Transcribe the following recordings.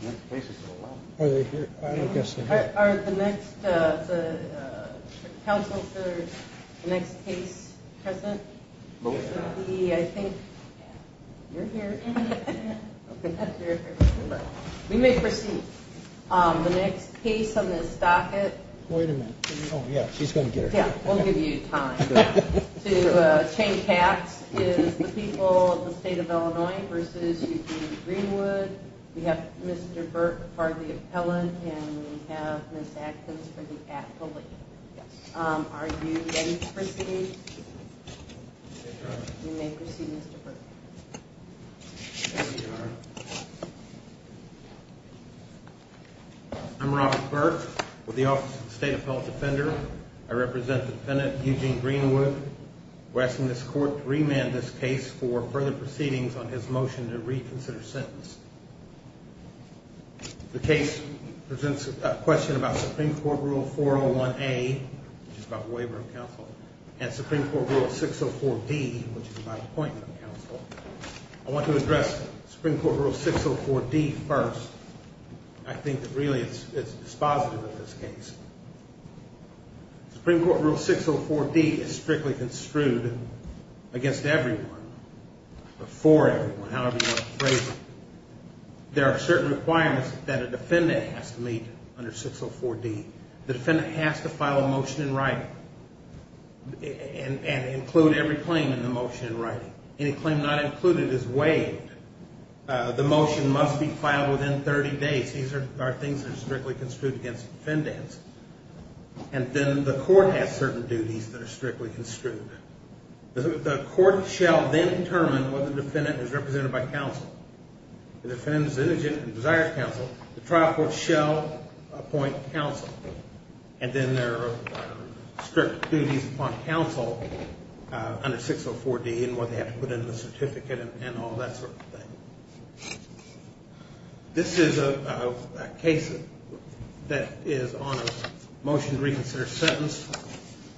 The next case is the people of the state of Illinois v. UT Greenwood. We have Mr. Burke for the appellant and we have Ms. Adkins for the appellant. Are you ready to proceed? You may proceed Mr. Burke. I'm Robert Burke with the Office of the State Appellate Defender. I represent the defendant, Eugene Greenwood. We're asking this court to remand this case for further proceedings on his motion to reconsider sentence. The case presents a question about Supreme Court Rule 401A, which is about the waiver of counsel, and Supreme Court Rule 604D, which is about appointment of counsel. I want to address Supreme Court Rule 604D first. I think that really it's dispositive of this case. Supreme Court Rule 604D is strictly construed against everyone, before everyone, however you want to phrase it. There are certain requirements that a defendant has to meet under 604D. The defendant has to file a motion in writing and include every claim in the motion in writing. Any claim not included is waived. The motion must be filed within 30 days. These are things that are strictly construed against defendants. And then the court has certain duties that are strictly construed. The court shall then determine whether the defendant is represented by counsel. If the defendant is indigent and desires counsel, the trial court shall appoint counsel. And then there are strict duties upon counsel under 604D and what they have to put in the certificate and all that sort of thing. This is a case that is on a motion to reconsider sentence.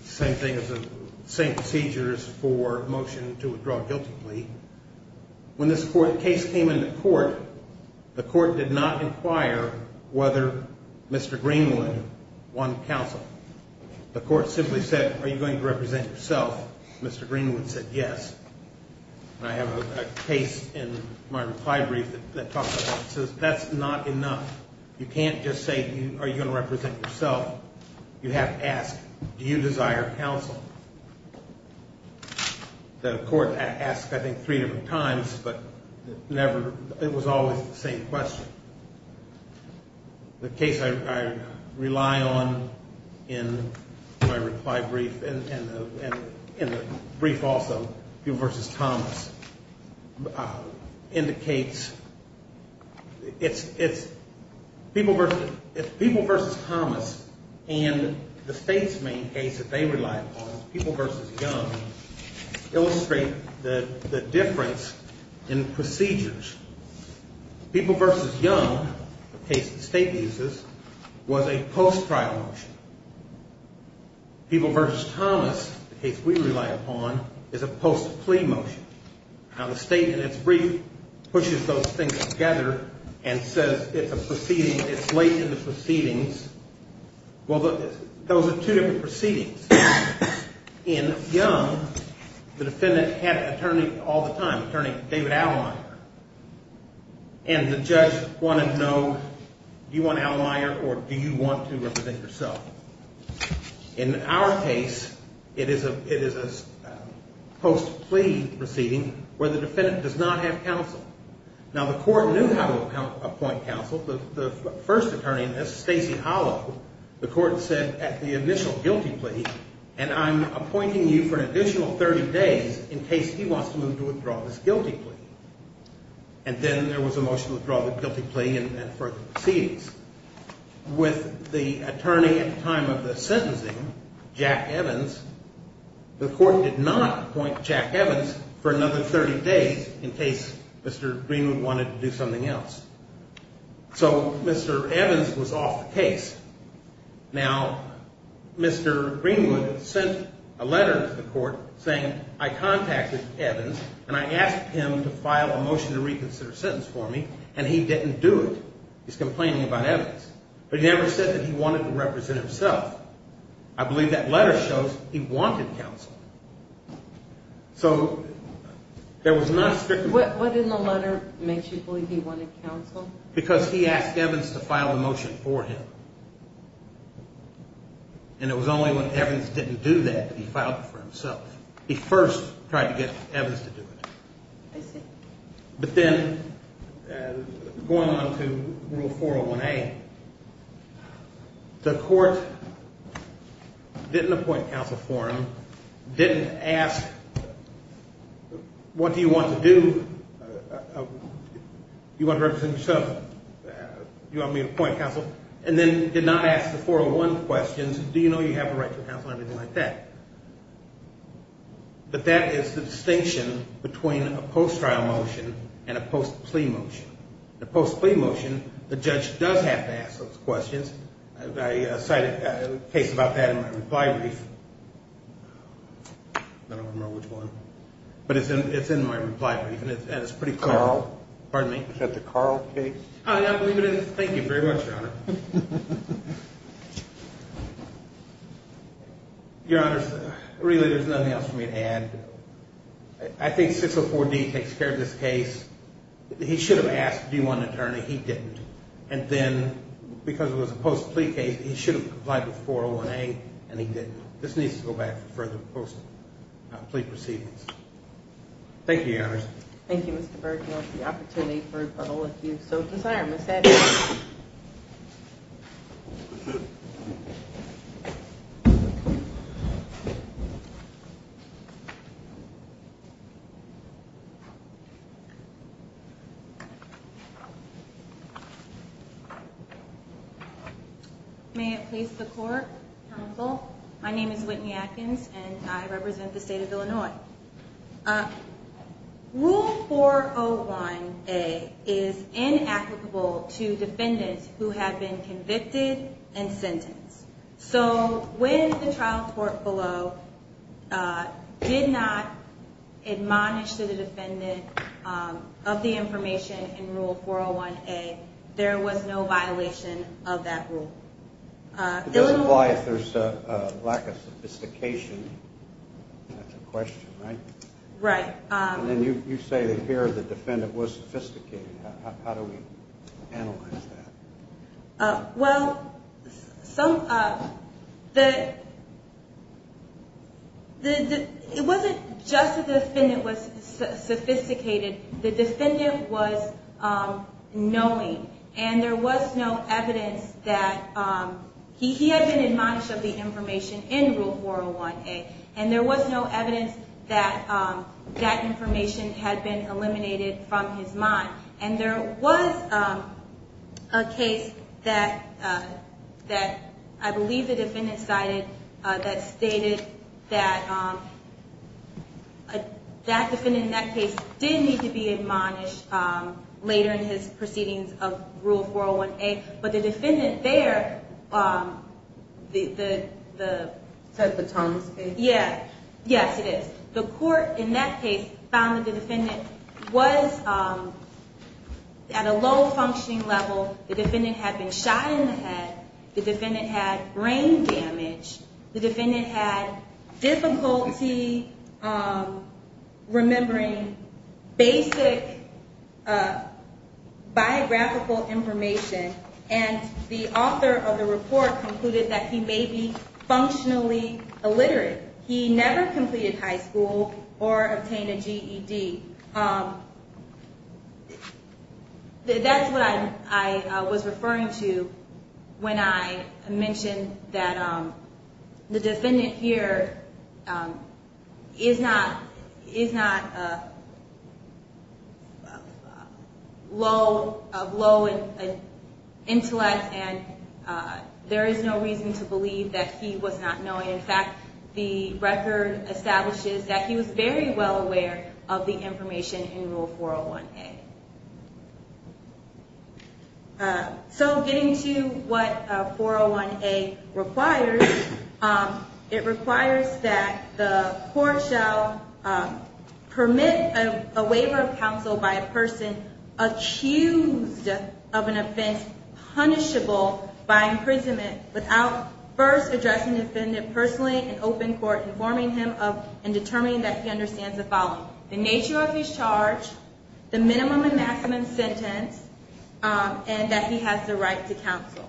Same thing as the same procedures for motion to withdraw guilty plea. When this case came into court, the court did not inquire whether Mr. Greenwood won counsel. The court simply said, are you going to represent yourself? Mr. Greenwood said yes. And I have a case in my reply brief that talks about that. It says that's not enough. You can't just say, are you going to represent yourself? You have to ask, do you desire counsel? The court asked, I think, three different times, but it was always the same question. The case I rely on in my reply brief and in the brief also, People v. Thomas, indicates it's people versus Thomas and the state's main case that they rely upon, People v. Young, illustrate the difference in procedures. People v. Young, the case the state uses, was a post-trial motion. People v. Thomas, the case we rely upon, is a post-plea motion. Now, the state in its brief pushes those things together and says it's a proceeding, it's late in the proceedings. In Young, the defendant had an attorney all the time, attorney David Allemeyer. And the judge wanted to know, do you want Allemeyer or do you want to represent yourself? In our case, it is a post-plea proceeding where the defendant does not have counsel. Now, the court knew how to appoint counsel. The first attorney in this, Stacy Hollow, the court said at the initial guilty plea, and I'm appointing you for an additional 30 days in case he wants to move to withdraw this guilty plea. And then there was a motion to withdraw the guilty plea and further proceedings. With the attorney at the time of the sentencing, Jack Evans, the court did not appoint Jack Evans for another 30 days in case Mr. Greenwood wanted to do something else. So Mr. Evans was off the case. Now, Mr. Greenwood sent a letter to the court saying, I contacted Evans and I asked him to file a motion to reconsider sentence for me, and he didn't do it. He's complaining about Evans. But he never said that he wanted to represent himself. I believe that letter shows he wanted counsel. What in the letter makes you believe he wanted counsel? Because he asked Evans to file the motion for him. And it was only when Evans didn't do that that he filed it for himself. He first tried to get Evans to do it. I see. But then going on to Rule 401A, the court didn't appoint counsel for him, didn't ask, what do you want to do? Do you want to represent yourself? Do you want me to appoint counsel? And then did not ask the 401 questions, do you know you have a right to counsel and everything like that. But that is the distinction between a post-trial motion and a post-plea motion. The post-plea motion, the judge does have to ask those questions. I cited a case about that in my reply brief. I don't remember which one. But it's in my reply brief, and it's pretty clear. Carl? Pardon me? Is that the Carl case? I believe it is. Thank you very much, Your Honor. Your Honor, really, there's nothing else for me to add. I think 604D takes care of this case. He should have asked, do you want an attorney? He didn't. And then because it was a post-plea case, he should have complied with 401A, and he didn't. This needs to go back for the post-plea proceedings. Thank you, Your Honor. Thank you, Mr. Berg. I want the opportunity for all of you. So desired. Ms. Atkins. May it please the Court, Counsel. My name is Whitney Atkins, and I represent the State of Illinois. Rule 401A is inapplicable to defendants who have been convicted and sentenced. So when the trial court below did not admonish the defendant of the information in Rule 401A, there was no violation of that rule. It doesn't apply if there's a lack of sophistication. That's a question, right? Right. And you say that here the defendant was sophisticated. How do we analyze that? Well, it wasn't just that the defendant was sophisticated. The defendant was knowing, and there was no evidence that he had been admonished of the information in Rule 401A, and there was no evidence that that information had been eliminated from his mind. And there was a case that I believe the defendant cited that stated that that defendant in that case did need to be admonished later in his proceedings of Rule 401A. But the defendant there, the… Is that the Thomas case? Yes, it is. The court in that case found that the defendant was at a low functioning level. The defendant had been shot in the head. The defendant had brain damage. The defendant had difficulty remembering basic biographical information, and the author of the report concluded that he may be functionally illiterate. He never completed high school or obtained a GED. That's what I was referring to when I mentioned that the defendant here is not of low intellect, and there is no reason to believe that he was not knowing. In fact, the record establishes that he was very well aware of the information in Rule 401A. So getting to what 401A requires, it requires that the court shall permit a waiver of counsel by a person accused of an offense punishable by imprisonment without first addressing the defendant personally in open court, informing him of and determining that he understands the following, the nature of his charge, the minimum and maximum sentence, and that he has the right to counsel.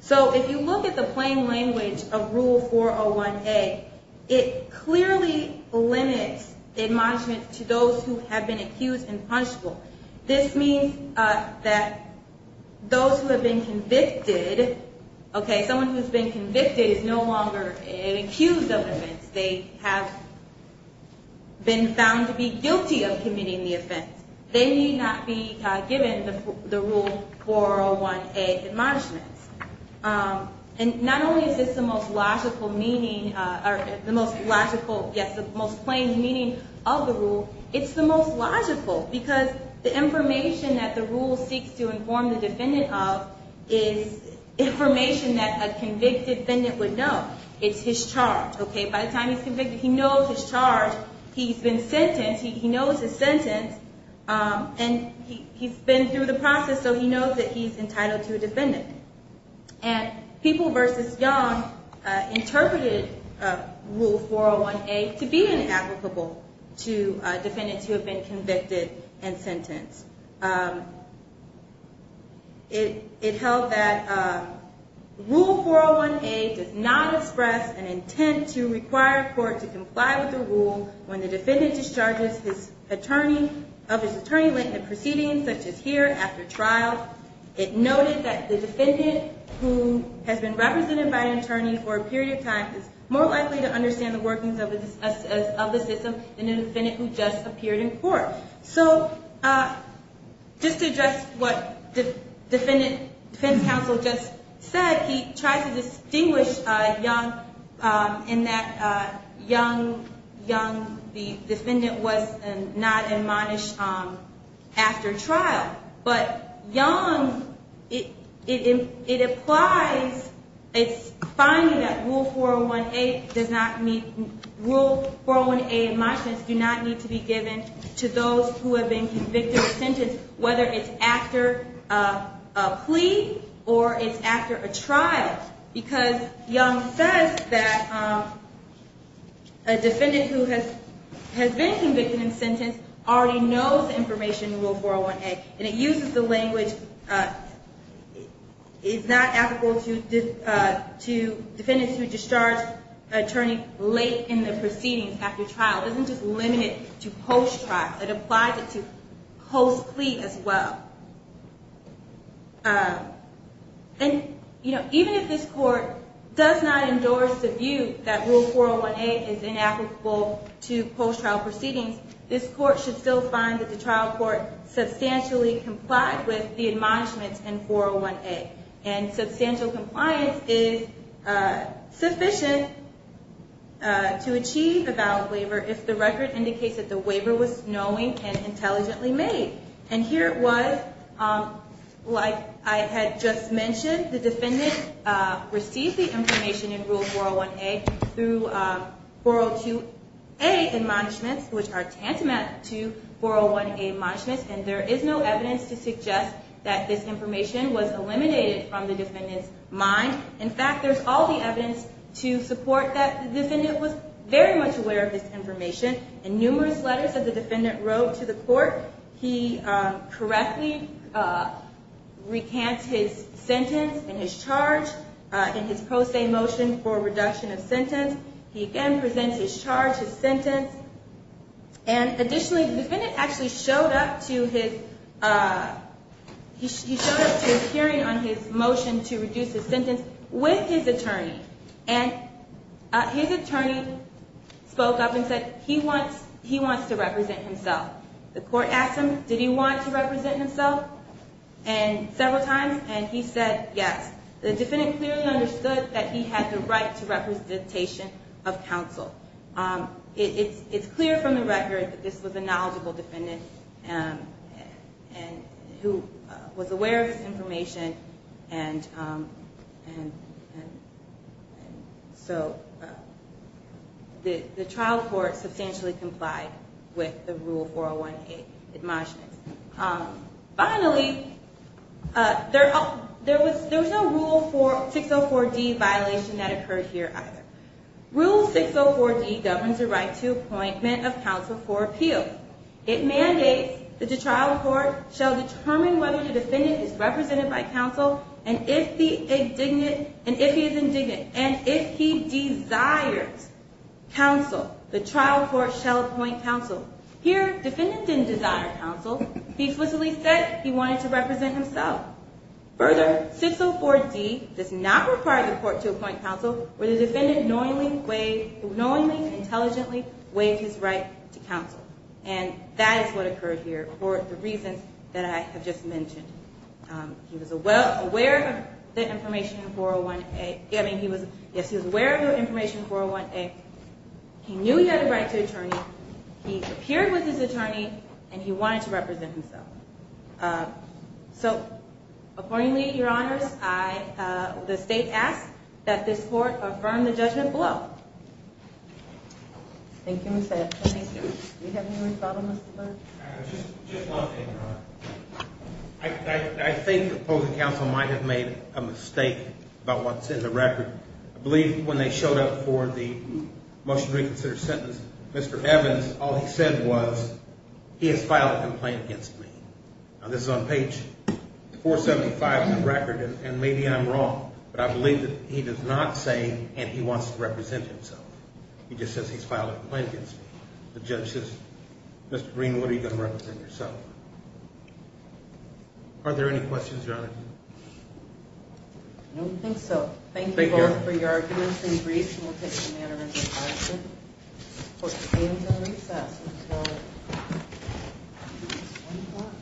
So if you look at the plain language of Rule 401A, it clearly limits admonishment to those who have been accused and punishable. This means that those who have been convicted, someone who has been convicted is no longer an accused of an offense. They have been found to be guilty of committing the offense. They need not be given the Rule 401A admonishments. And not only is this the most logical meaning, or the most logical, yes, the most plain meaning of the rule, it's the most logical because the information that the rule seeks to inform the defendant of is information that a convicted defendant would know. It's his charge. By the time he's convicted, he knows his charge. He's been sentenced. He knows his sentence. And he's been through the process, so he knows that he's entitled to a defendant. And People v. Young interpreted Rule 401A to be inapplicable to defendants who have been convicted and sentenced. It held that Rule 401A does not express an intent to require a court to comply with the rule when the defendant discharges his attorney of his attorney late in the proceedings, such as here after trial. It noted that the defendant who has been represented by an attorney for a period of time is more likely to understand the workings of the system than a defendant who just appeared in court. So just to address what the defense counsel just said, he tries to distinguish Young in that Young, the defendant, was not admonished after trial. But Young, it applies. It's finding that Rule 401A in my sense do not need to be given to those who have been convicted and sentenced, whether it's after a plea or it's after a trial. Because Young says that a defendant who has been convicted and sentenced already knows the information in Rule 401A. And it uses the language, it's not applicable to defendants who discharge an attorney late in the proceedings after trial. It isn't just limited to post-trial. It applies it to post-plea as well. And even if this court does not endorse the view that Rule 401A is inapplicable to post-trial proceedings, this court should still find that the trial court substantially complied with the admonishments in 401A. And substantial compliance is sufficient to achieve a valid waiver if the record indicates that the waiver was knowing and intelligently made. And here it was. Like I had just mentioned, the defendant received the information in Rule 401A through 402A admonishments, which are tantamount to 401A admonishments. And there is no evidence to suggest that this information was eliminated from the defendant's mind. In fact, there's all the evidence to support that the defendant was very much aware of this information. In numerous letters that the defendant wrote to the court, he correctly recants his sentence and his charge in his pro se motion for reduction of sentence. He again presents his charge, his sentence. And additionally, the defendant actually showed up to his hearing on his motion to reduce his sentence with his attorney. And his attorney spoke up and said he wants to represent himself. The court asked him, did he want to represent himself several times, and he said yes. The defendant clearly understood that he had the right to representation of counsel. It's clear from the record that this was a knowledgeable defendant who was aware of this information. And so the trial court substantially complied with the Rule 401A admonishments. Finally, there was no Rule 604D violation that occurred here either. Rule 604D governs the right to appointment of counsel for appeal. It mandates that the trial court shall determine whether the defendant is represented by counsel and if he is indignant. And if he desires counsel, the trial court shall appoint counsel. Here, defendant didn't desire counsel. He explicitly said he wanted to represent himself. Further, 604D does not require the court to appoint counsel where the defendant knowingly, intelligently waived his right to counsel. And that is what occurred here for the reasons that I have just mentioned. He was aware of the information in 401A. Yes, he was aware of the information in 401A. He knew he had a right to attorney. He appeared with his attorney, and he wanted to represent himself. So accordingly, Your Honors, the state asks that this court affirm the judgment below. Thank you, Ms. Hatch. Do we have any more thought on this? Just one thing, Your Honor. I think the opposing counsel might have made a mistake about what's in the record. I believe when they showed up for the motion to reconsider sentence, Mr. Evans, all he said was, he has filed a complaint against me. Now, this is on page 475 of the record, and maybe I'm wrong, but I believe that he does not say, and he wants to represent himself. He just says he's filed a complaint against me. The judge says, Mr. Greenwood, are you going to represent yourself? Are there any questions, Your Honor? I don't think so. Thank you both for your arguments and briefs. This meeting will take some time to recess until 1 o'clock.